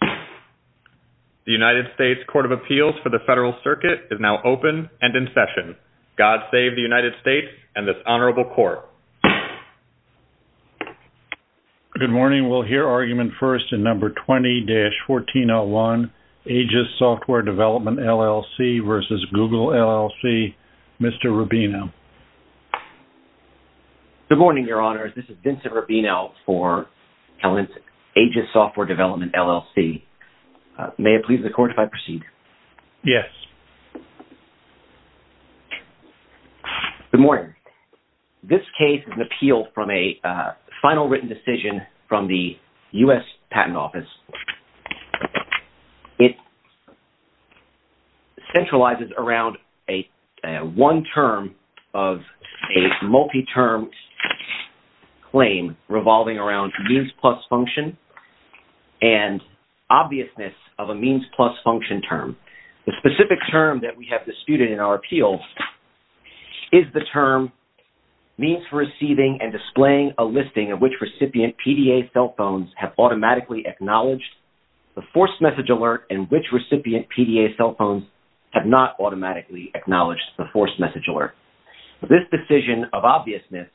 The United States Court of Appeals for the Federal Circuit is now open and in session. God save the United States and this honorable court. Good morning. We'll hear argument first in number 20-1401, AGIS Software Development, LLC v. Google LLC. Mr. Rubino. Good morning, Your Honors. This is Vincent Rubino for AGIS Software Development, LLC. May it please the court if I proceed? Yes. Good morning. This case is an appeal from a final written decision from the U.S. Patent Office. It centralizes around one term of a multi-term claim revolving around means plus function and obviousness of a means plus function term. The specific term that we have disputed in our appeals is the term means for receiving and displaying a listing of which recipient PDA cell phones have automatically acknowledged the forced message alert and which recipient PDA cell phones have not automatically acknowledged the forced message alert. This decision of obviousness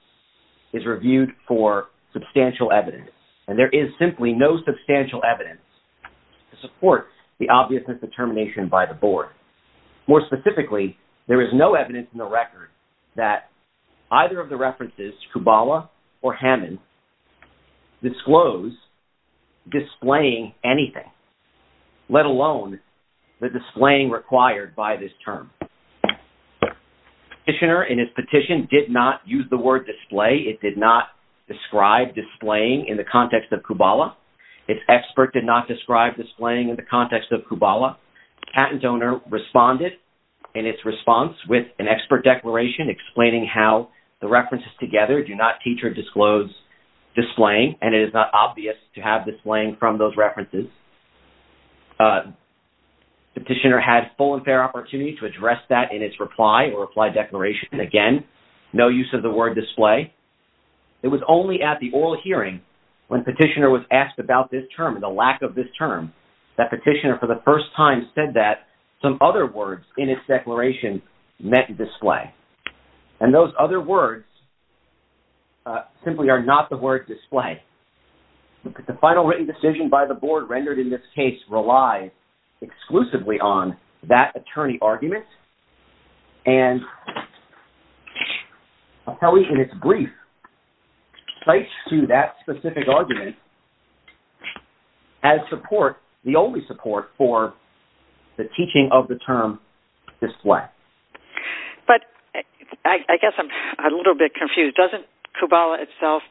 is reviewed for substantial evidence, and there is simply no substantial evidence to support the obviousness determination by the board. More specifically, there is no evidence in the record that either of the references, Kubala or Hammond, disclose displaying anything, let alone the displaying required by this term. The petitioner in his petition did not use the word display. It did not describe displaying in the context of Kubala. Its expert did not describe displaying in the context of Kubala. The patent owner responded in its response with an expert declaration explaining how the references together do not teach or disclose displaying, and it is not obvious to have displaying from those references. The petitioner had full and fair opportunity to address that in its reply or reply declaration. Again, no use of the word display. It was only at the oral hearing when petitioner was asked about this term and the lack of this term that petitioner for the first time said that some other words in its declaration meant display. And those other words simply are not the word display. The final written decision by the board rendered in this case relies exclusively on that attorney argument, and Appelli, in its brief, cites to that specific argument as support, the only support, for the teaching of the term display. But I guess I'm a little bit confused. Doesn't Kubala itself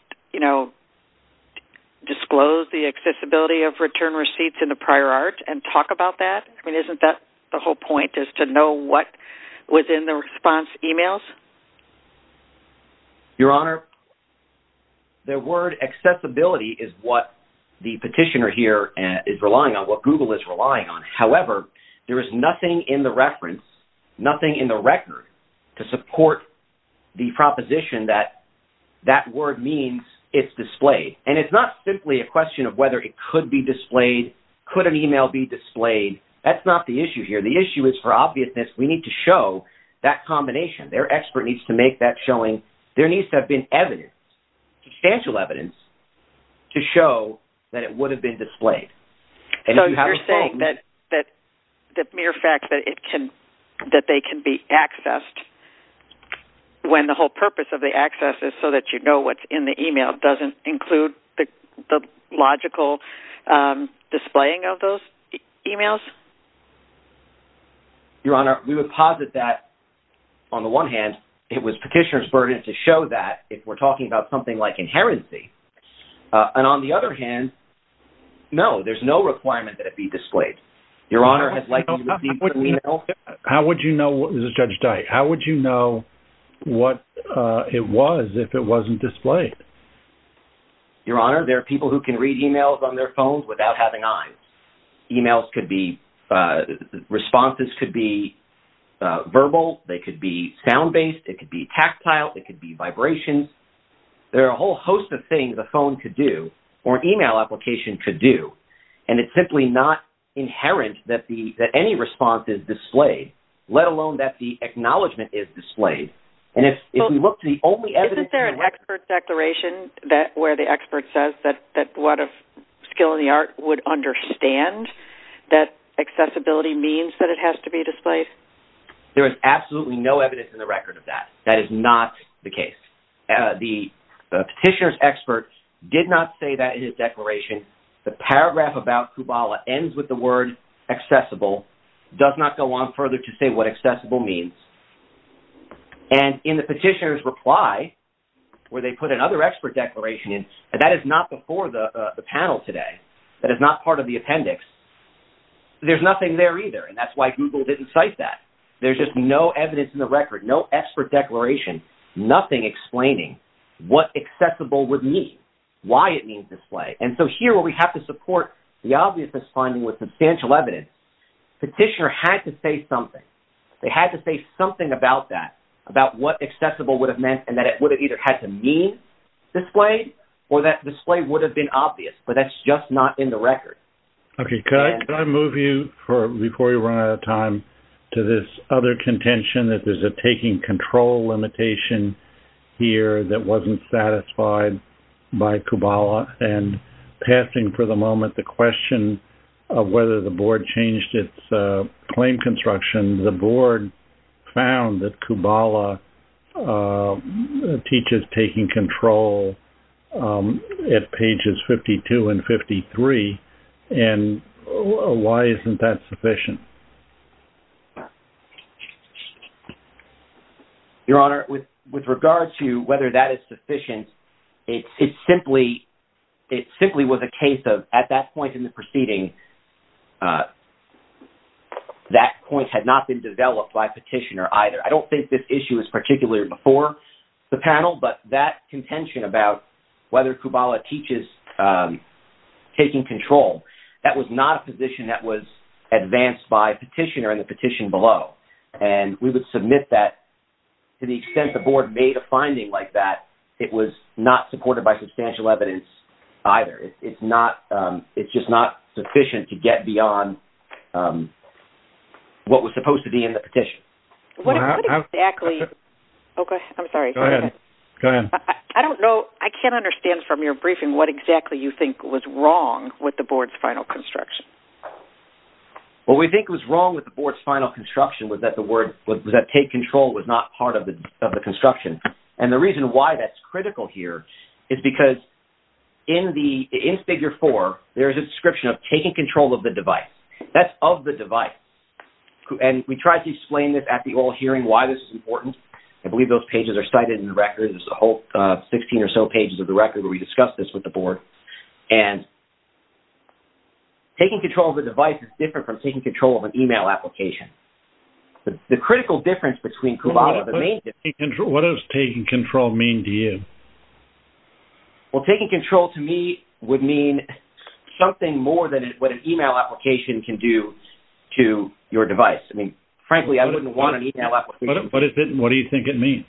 disclose the accessibility of return receipts in the prior art and talk about that? I mean, isn't that the whole point is to know what was in the response emails? Your Honor, the word accessibility is what the petitioner here is relying on, what Google is relying on. However, there is nothing in the reference, nothing in the record, to support the proposition that that word means it's displayed. And it's not simply a question of whether it could be displayed, could an email be displayed. That's not the issue here. The issue is, for obviousness, we need to show that combination. Their expert needs to make that showing. There needs to have been evidence, substantial evidence, to show that it would have been displayed. So you're saying that the mere fact that they can be accessed when the whole purpose of the access is so that you know what's in the email doesn't include the logical displaying of those emails? Your Honor, we would posit that, on the one hand, it was petitioner's burden to show that if we're talking about something like inherency. And on the other hand, no, there's no requirement that it be displayed. How would you know what it was if it wasn't displayed? Your Honor, there are people who can read emails on their phones without having eyes. Emails could be, responses could be verbal, they could be sound based, it could be tactile, it could be vibrations. There are a whole host of things a phone could do, or an email application could do. And it's simply not inherent that any response is displayed, let alone that the acknowledgement is displayed. Isn't there an expert's declaration where the expert says that a skill in the art would understand that accessibility means that it has to be displayed? There is absolutely no evidence in the record of that. That is not the case. The petitioner's expert did not say that in his declaration. The paragraph about Kubala ends with the word accessible, does not go on further to say what accessible means. And in the petitioner's reply, where they put another expert declaration in, that is not before the panel today, that is not part of the appendix. There's nothing there either, and that's why Google didn't cite that. There's just no evidence in the record, no expert declaration, nothing explaining what accessible would mean, why it means display. And so here where we have to support the obviousness finding with substantial evidence, petitioner had to say something. They had to say something about that, about what accessible would have meant, and that it would have either had to mean displayed, or that display would have been obvious. But that's just not in the record. Okay, can I move you, before we run out of time, to this other contention that there's a taking control limitation here that wasn't satisfied by Kubala? And passing for the moment the question of whether the board changed its claim construction, when the board found that Kubala teaches taking control at pages 52 and 53, and why isn't that sufficient? Your Honor, with regard to whether that is sufficient, it simply was a case of, at that point in the proceeding, that point had not been developed by petitioner either. I don't think this issue is particularly before the panel, but that contention about whether Kubala teaches taking control, that was not a position that was advanced by petitioner in the petition below. And we would submit that, to the extent the board made a finding like that, it was not supported by substantial evidence either. It's just not sufficient to get beyond what was supposed to be in the petition. I'm sorry. Go ahead. I don't know, I can't understand from your briefing what exactly you think was wrong with the board's final construction. What we think was wrong with the board's final construction was that the word, was that take control was not part of the construction. And the reason why that's critical here is because in the, in figure four, there's a description of taking control of the device. That's of the device. And we tried to explain this at the oral hearing, why this is important. I believe those pages are cited in the record. There's a whole 16 or so pages of the record where we discussed this with the board. And taking control of the device is different from taking control of an email application. The critical difference between Kubala, the main difference. What does taking control mean to you? Well, taking control to me would mean something more than what an email application can do to your device. I mean, frankly, I wouldn't want an email application. But what do you think it means?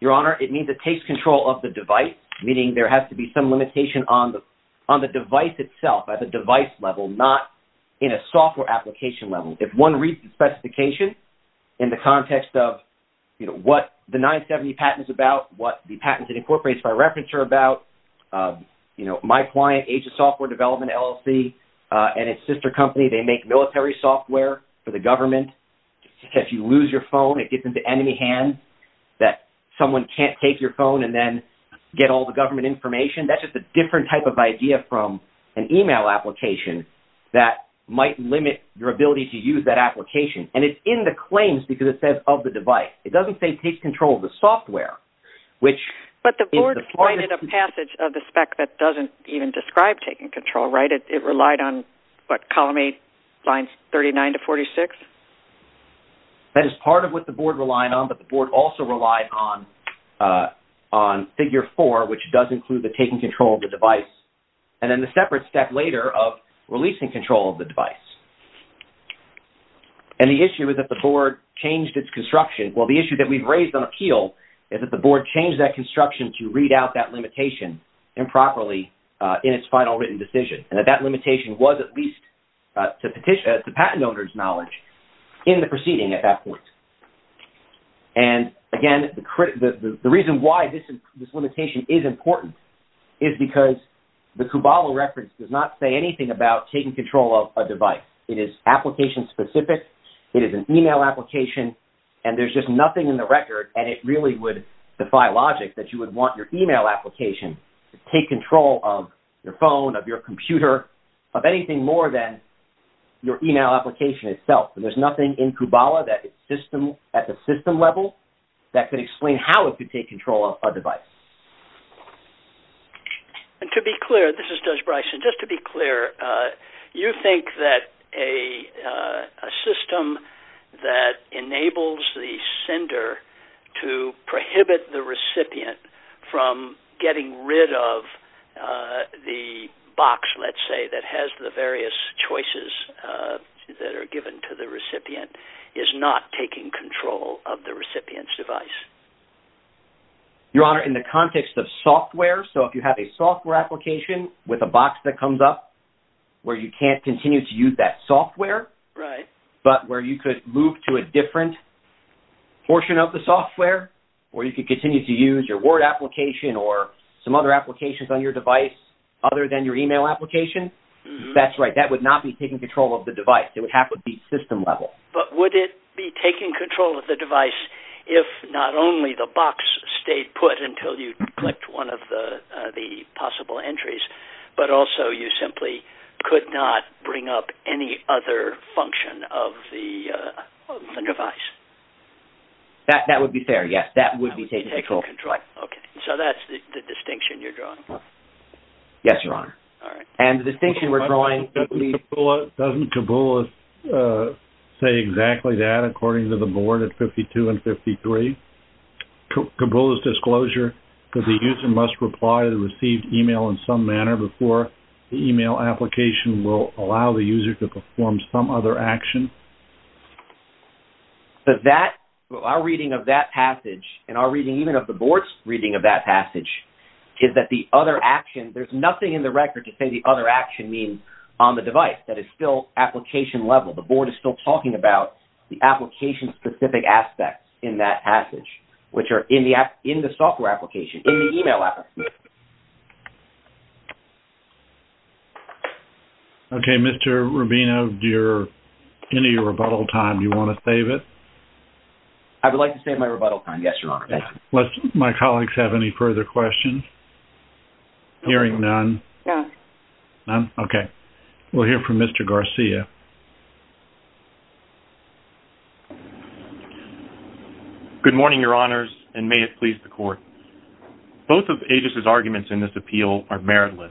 Your Honor, it means it takes control of the device, meaning there has to be some limitation on the device itself, at the device level, not in a software application level. If one reads the specification in the context of, you know, what the 970 patent is about, what the patents it incorporates by reference are about, you know, my client, Agents of Software Development, LLC, and its sister company, they make military software for the government. If you lose your phone, it gets into enemy hands that someone can't take your phone and then get all the government information. That's just a different type of idea from an email application that might limit your ability to use that application. And it's in the claims because it says of the device. It doesn't say takes control of the software, which is the part of the... But the board provided a passage of the spec that doesn't even describe taking control, right? It relied on, what, column 8, lines 39 to 46? That is part of what the board relied on, but the board also relied on figure 4, which does include the taking control of the device. And then the separate step later of releasing control of the device. And the issue is that the board changed its construction. Well, the issue that we've raised on appeal is that the board changed that construction to read out that limitation improperly in its final written decision. And that that limitation was at least, to patent owners' knowledge, in the proceeding at that point. And, again, the reason why this limitation is important is because the Kubala reference does not say anything about taking control of a device. It is application-specific. It is an email application. And there's just nothing in the record, and it really would defy logic, that you would want your email application to take control of your phone, of your computer, of anything more than your email application itself. And there's nothing in Kubala at the system level that could explain how it could take control of a device. And to be clear, this is Judge Bryson. Just to be clear, you think that a system that enables the sender to prohibit the recipient from getting rid of the box, let's say, that has the various choices that are given to the recipient, is not taking control of the recipient's device? Your Honor, in the context of software, so if you have a software application with a box that comes up where you can't continue to use that software, but where you could move to a different portion of the software, or you could continue to use your Word application or some other applications on your device other than your email application, that's right. That would not be taking control of the device. It would have to be system level. But would it be taking control of the device if not only the box stayed put until you clicked one of the possible entries, but also you simply could not bring up any other function of the device? That would be fair, yes. That would be taking control. Okay. So that's the distinction you're drawing. Yes, Your Honor. All right. And the distinction we're drawing... Doesn't Kabula say exactly that according to the board at 52 and 53? Kabula's disclosure that the user must reply to the received email in some manner before the email application will allow the user to perform some other action? Our reading of that passage, and our reading even of the board's reading of that passage, is that the other action... There's nothing in the record to say the other action means on the device that is still application level. The board is still talking about the application-specific aspects in that passage, which are in the software application, in the email application. Okay. Mr. Rubino, do you have any rebuttal time? Do you want to save it? I would like to save my rebuttal time, yes, Your Honor. Thank you. Do my colleagues have any further questions? Hearing none. None. None? Okay. We'll hear from Mr. Garcia. Good morning, Your Honors, and may it please the Court. Both of AGIS's arguments in this appeal are meritless.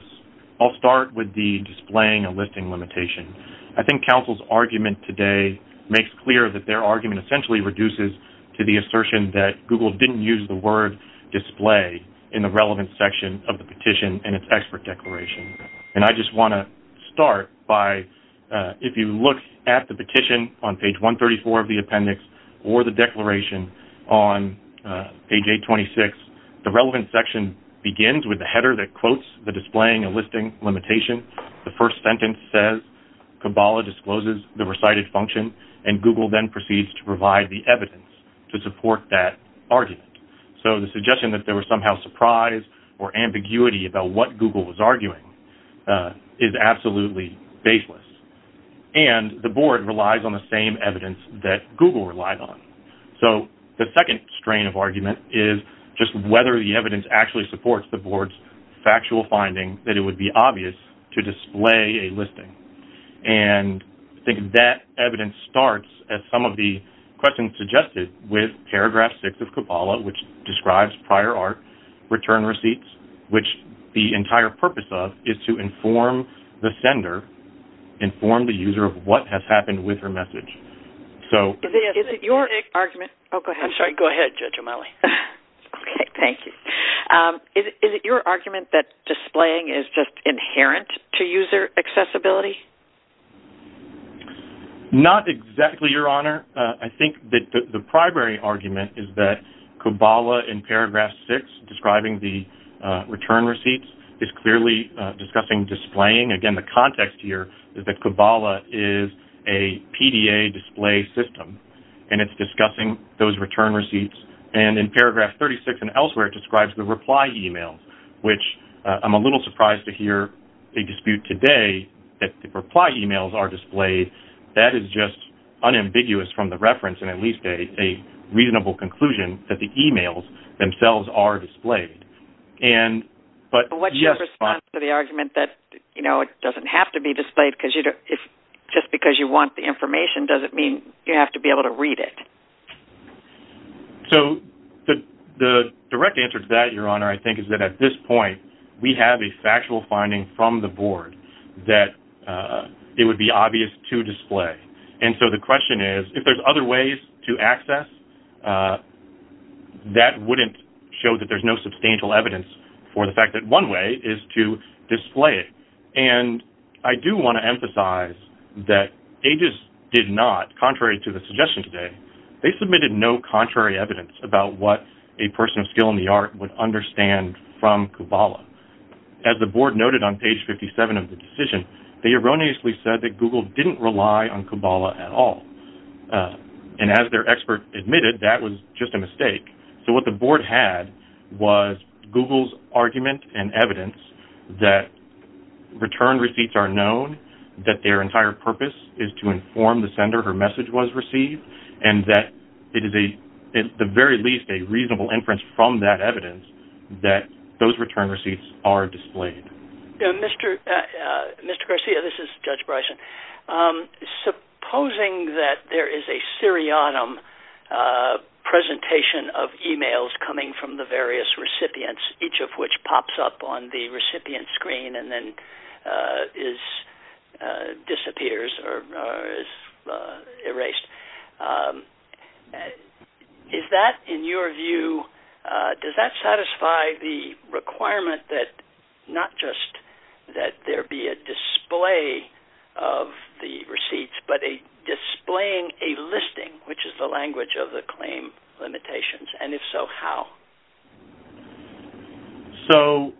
I'll start with the displaying a listing limitation. I think counsel's argument today makes clear that their argument essentially reduces to the assertion that Google didn't use the word display in the relevant section of the petition and its expert declaration. And I just want to start by, if you look at the petition on page 134 of the appendix or the declaration on page 826, the relevant section begins with the header that quotes the displaying a listing limitation. The first sentence says, Kabbalah discloses the recited function, and Google then proceeds to provide the evidence to support that argument. So the suggestion that there was somehow surprise or ambiguity about what Google was arguing is absolutely baseless. And the Board relies on the same evidence that Google relied on. So the second strain of argument is just whether the evidence actually supports the Board's factual finding that it would be obvious to display a listing. And I think that evidence starts, as some of the questions suggested, with paragraph 6 of Kabbalah, which describes prior art return receipts, which the entire purpose of is to inform the sender, inform the user of what has happened with her message. Is it your argument that displaying is just inherent to user accessibility? I think that the primary argument is that Kabbalah, in paragraph 6, describing the return receipts, is clearly discussing displaying. Again, the context here is that Kabbalah is a PDA display system, and it's discussing those return receipts. And in paragraph 36 and elsewhere, it describes the reply e-mails, which I'm a little surprised to hear a dispute today that the reply e-mails are displayed. That is just unambiguous from the reference, and at least a reasonable conclusion that the e-mails themselves are displayed. What's your response to the argument that it doesn't have to be displayed? Just because you want the information doesn't mean you have to be able to read it. So the direct answer to that, Your Honor, I think is that at this point, we have a factual finding from the Board that it would be obvious to display. And so the question is, if there's other ways to access, that wouldn't show that there's no substantial evidence for the fact that one way is to display it. And I do want to emphasize that AGES did not, contrary to the suggestion today, they submitted no contrary evidence about what a person of skill in the art would understand from Kabbalah. As the Board noted on page 57 of the decision, they erroneously said that Google didn't rely on Kabbalah at all. And as their expert admitted, that was just a mistake. So what the Board had was Google's argument and evidence that return receipts are known, that their entire purpose is to inform the sender her message was received, and that it is at the very least a reasonable inference from that evidence that those return receipts are displayed. Mr. Garcia, this is Judge Bryson. Supposing that there is a seriatim presentation of emails coming from the various recipients, each of which pops up on the recipient screen and then disappears or is erased, is that, in your view, does that satisfy the requirement that not just that there be a display of the receipts, but displaying a listing, which is the language of the claim limitations? And if so, how? So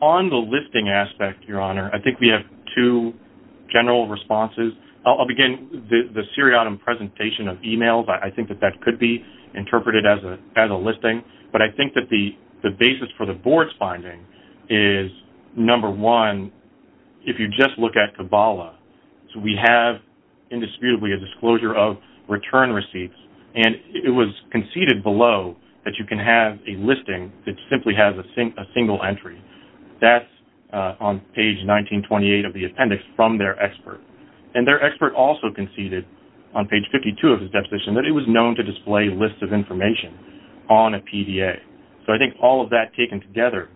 on the listing aspect, Your Honor, I think we have two general responses. Again, the seriatim presentation of emails, I think that that could be interpreted as a listing. But I think that the basis for the Board's finding is, number one, if you just look at Kabbalah, we have indisputably a disclosure of return receipts. And it was conceded below that you can have a listing that simply has a single entry. That's on page 1928 of the appendix from their expert. And their expert also conceded on page 52 of his deposition that it was known to display lists of information on a PDA. So I think all of that taken together,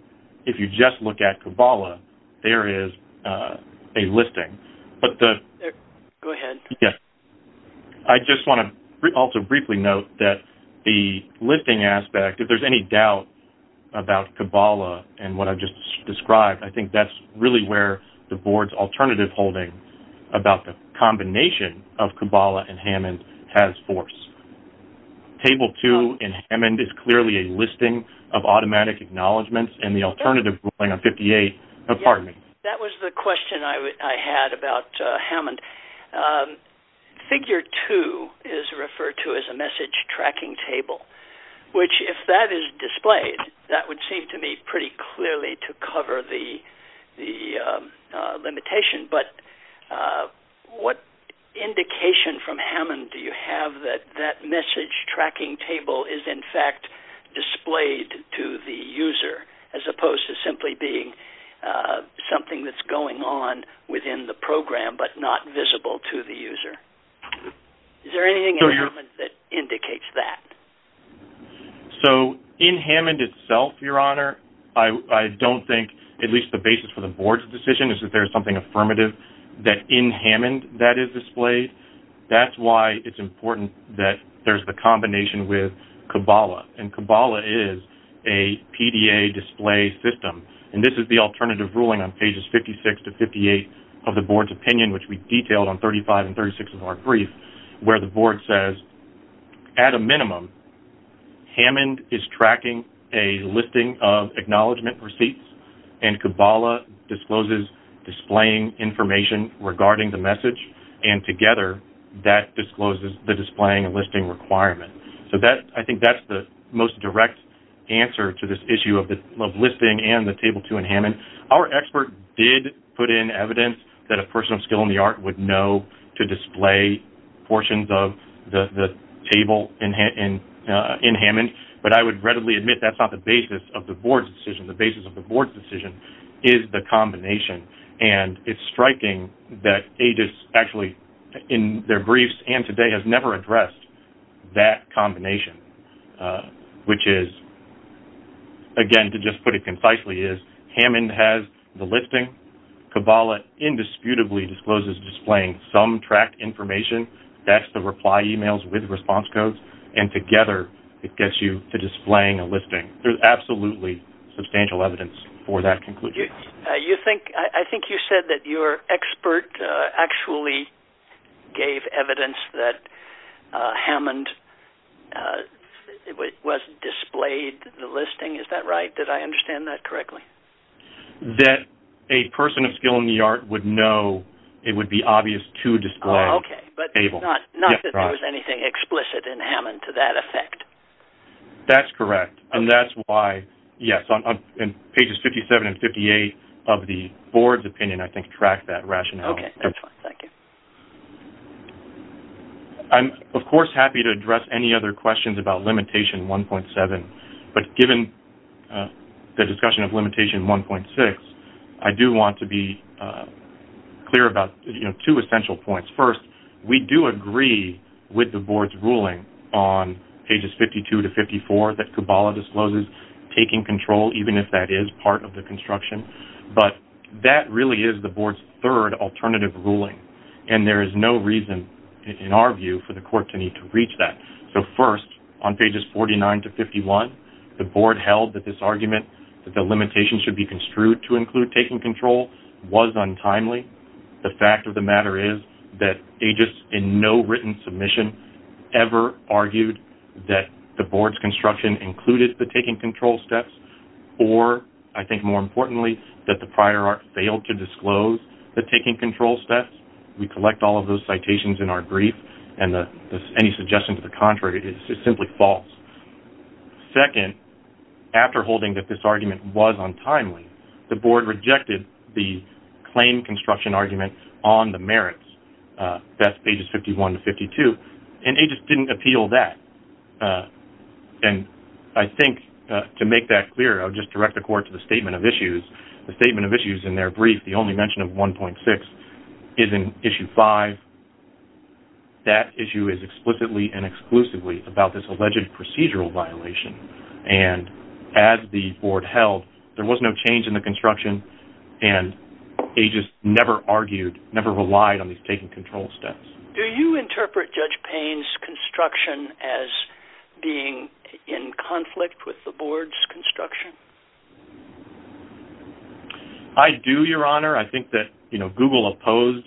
if you just look at Kabbalah, there is a listing. Go ahead. Yes. I just want to also briefly note that the listing aspect, if there's any doubt about Kabbalah and what I've just described, I think that's really where the Board's alternative holding about the combination of Kabbalah and Hammond has force. Table 2 in Hammond is clearly a listing of automatic acknowledgments and the alternative ruling on 58. Pardon me. That was the question I had about Hammond. Figure 2 is referred to as a message tracking table, which, if that is displayed, that would seem to me pretty clearly to cover the limitation. But what indication from Hammond do you have that that message tracking table is, in fact, displayed to the user, as opposed to simply being something that's going on within the program but not visible to the user? Is there anything in Hammond that indicates that? So in Hammond itself, Your Honor, I don't think, at least the basis for the Board's decision, is that there is something affirmative in Hammond that is displayed. That's why it's important that there's the combination with Kabbalah. And Kabbalah is a PDA display system, and this is the alternative ruling on pages 56 to 58 of the Board's opinion, which we've detailed on 35 and 36 of our brief, where the Board says, at a minimum, Hammond is tracking a listing of acknowledgment receipts, and Kabbalah discloses displaying information regarding the message, and together that discloses the displaying and listing requirement. So I think that's the most direct answer to this issue of listing and the Table 2 in Hammond. Our expert did put in evidence that a person of skill in the art would know to display portions of the table in Hammond, but I would readily admit that's not the basis of the Board's decision. The basis of the Board's decision is the combination, and it's striking that AGIS actually, in their briefs and today, has never addressed that combination, which is, again, to just put it concisely, is Hammond has the listing. Kabbalah indisputably discloses displaying some tracked information. That's the reply emails with response codes, and together it gets you to displaying a listing. There's absolutely substantial evidence for that conclusion. I think you said that your expert actually gave evidence that Hammond was displayed the listing. Is that right? Did I understand that correctly? That a person of skill in the art would know it would be obvious to display a table. Okay, but not that there was anything explicit in Hammond to that effect. That's correct, and that's why, yes, on Pages 57 and 58 of the Board's opinion, I think, track that rationale. Okay, that's fine. Thank you. I'm, of course, happy to address any other questions about Limitation 1.7, but given the discussion of Limitation 1.6, I do want to be clear about two essential points. First, we do agree with the Board's ruling on Pages 52 to 54 that Kabbalah discloses taking control, even if that is part of the construction, but that really is the Board's third alternative ruling, and there is no reason, in our view, for the Court to need to reach that. So, first, on Pages 49 to 51, the Board held that this argument, that the limitations should be construed to include taking control, was untimely. The fact of the matter is that AGIS, in no written submission, ever argued that the Board's construction included the taking control steps, or, I think more importantly, that the Prior Art failed to disclose the taking control steps. We collect all of those citations in our brief, and any suggestion to the contrary is simply false. Second, after holding that this argument was untimely, the Board rejected the claim construction argument on the merits, that's Pages 51 to 52, and AGIS didn't appeal that. And I think, to make that clear, I'll just direct the Court to the Statement of Issues. The Statement of Issues, in their brief, the only mention of 1.6, is in Issue 5. That issue is explicitly and exclusively about this alleged procedural violation, and as the Board held, there was no change in the construction, and AGIS never argued, never relied on these taking control steps. Do you interpret Judge Payne's construction as being in conflict with the Board's construction? I do, Your Honor. I think that, you know, Google opposed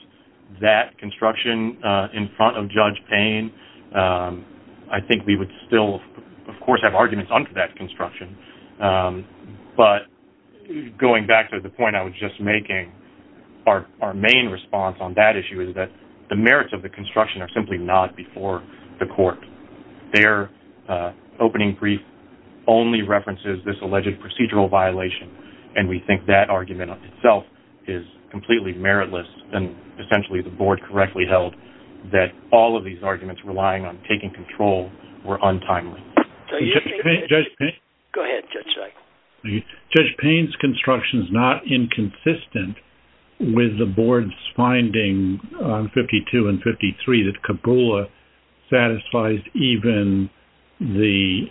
that construction in front of Judge Payne. I think we would still, of course, have arguments under that construction. But, going back to the point I was just making, our main response on that issue is that the merits of the construction are simply not before the Court. Their opening brief only references this alleged procedural violation, and we think that argument itself is completely meritless, and essentially the Board correctly held that all of these arguments relying on taking control were untimely. Go ahead, Judge Reich. Judge Payne's construction is not inconsistent with the Board's finding on 52 and 53 that Kabula satisfies even the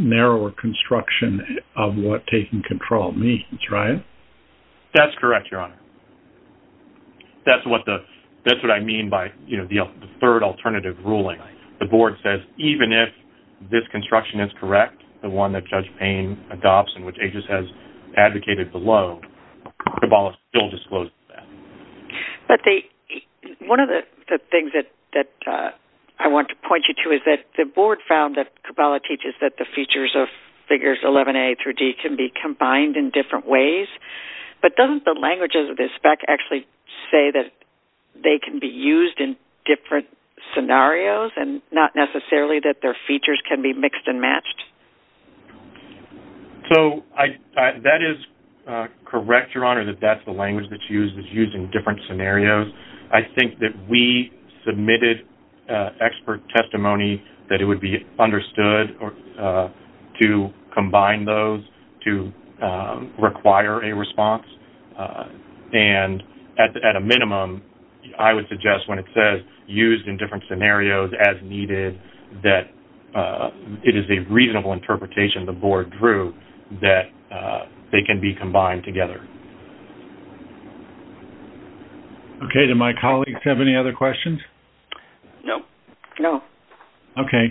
narrower construction of what taking control means, right? That's correct, Your Honor. That's what I mean by the third alternative ruling. The Board says even if this construction is correct, the one that Judge Payne adopts and which AGIS has advocated below, Kabula still discloses that. One of the things that I want to point you to is that the Board found that Kabula teaches that the features of Figures 11A through D can be combined in different ways, but doesn't the language of the spec actually say that they can be used in different scenarios and not necessarily that their features can be mixed and matched? So, that is correct, Your Honor, that that's the language that's used in different scenarios. I think that we submitted expert testimony that it would be understood to combine those to require a response, and at a minimum, I would suggest when it says used in different scenarios as needed, that it is a reasonable interpretation the Board drew that they can be combined together. Okay. Do my colleagues have any other questions? No. No. Okay.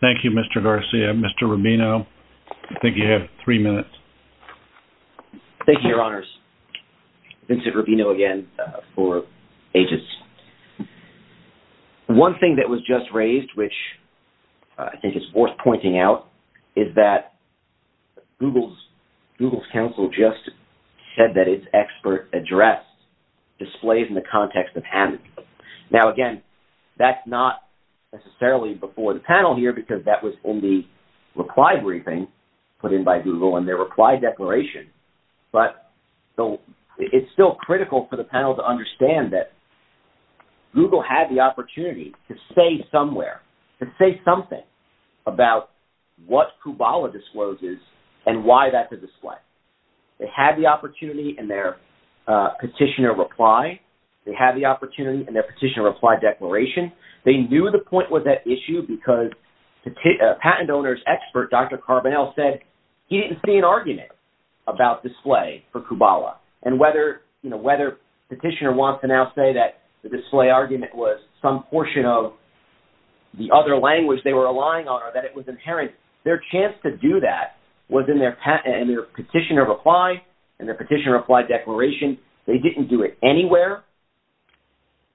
Thank you, Mr. Garcia. Mr. Rubino, I think you have three minutes. Thank you, Your Honors. Vincent Rubino again for AGIS. One thing that was just raised, which I think is worth pointing out, is that Google's counsel just said that its expert address displays in the context of Hammond. Now, again, that's not necessarily before the panel here, because that was in the reply briefing put in by Google in their reply declaration, but it's still critical for the panel to understand that Google had the opportunity to say somewhere, to say something about what Kubala discloses and why that's a display. They had the opportunity in their petitioner reply. They had the opportunity in their petitioner reply declaration. They knew the point was at issue because patent owner's expert, Dr. Carbonell, said he didn't see an argument about display for Kubala. And whether petitioner wants to now say that the display argument was some portion of the other language they were relying on or that it was inherent, their chance to do that was in their petitioner reply and their petitioner reply declaration. They didn't do it anywhere.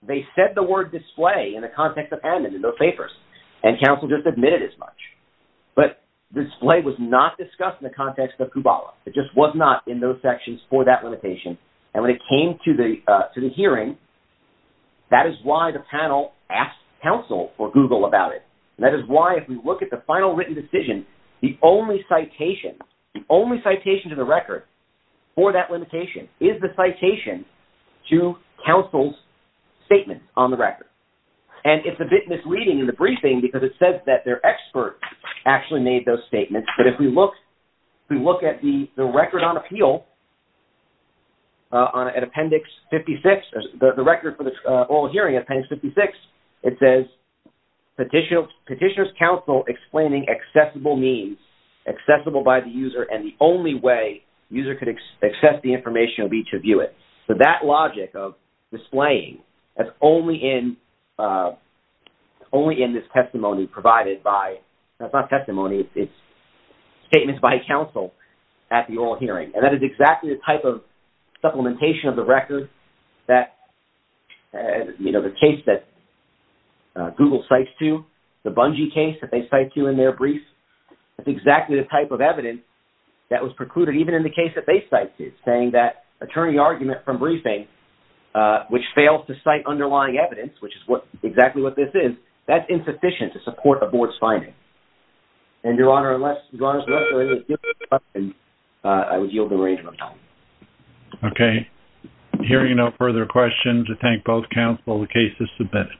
They said the word display in the context of Hammond in those papers, and counsel just admitted as much. But display was not discussed in the context of Kubala. It just was not in those sections for that limitation. And when it came to the hearing, that is why the panel asked counsel for Google about it. And that is why if we look at the final written decision, the only citation, the only citation to the record for that limitation is the citation to counsel's statement on the record. And it's a bit misleading in the briefing because it says that their expert actually made those statements. But if we look at the record on appeal at appendix 56, the record for the oral hearing appendix 56, it says petitioner's counsel explaining accessible means, accessible by the user, and the only way the user could access the information would be to view it. So that logic of displaying, that's only in this testimony provided by, that's not testimony, it's statements by counsel at the oral hearing. And that is exactly the type of supplementation of the record that, you know, the case that Google cites to, the Bungie case that they cite to in their brief, that's exactly the type of evidence that was precluded even in the case that they cite to, saying that attorney argument from briefing, which fails to cite underlying evidence, which is exactly what this is, that's insufficient to support a board's finding. And, Your Honor, unless there is a different question, I would yield the arrangement of time. Okay. Hearing no further questions, I thank both counsel. The case is submitted.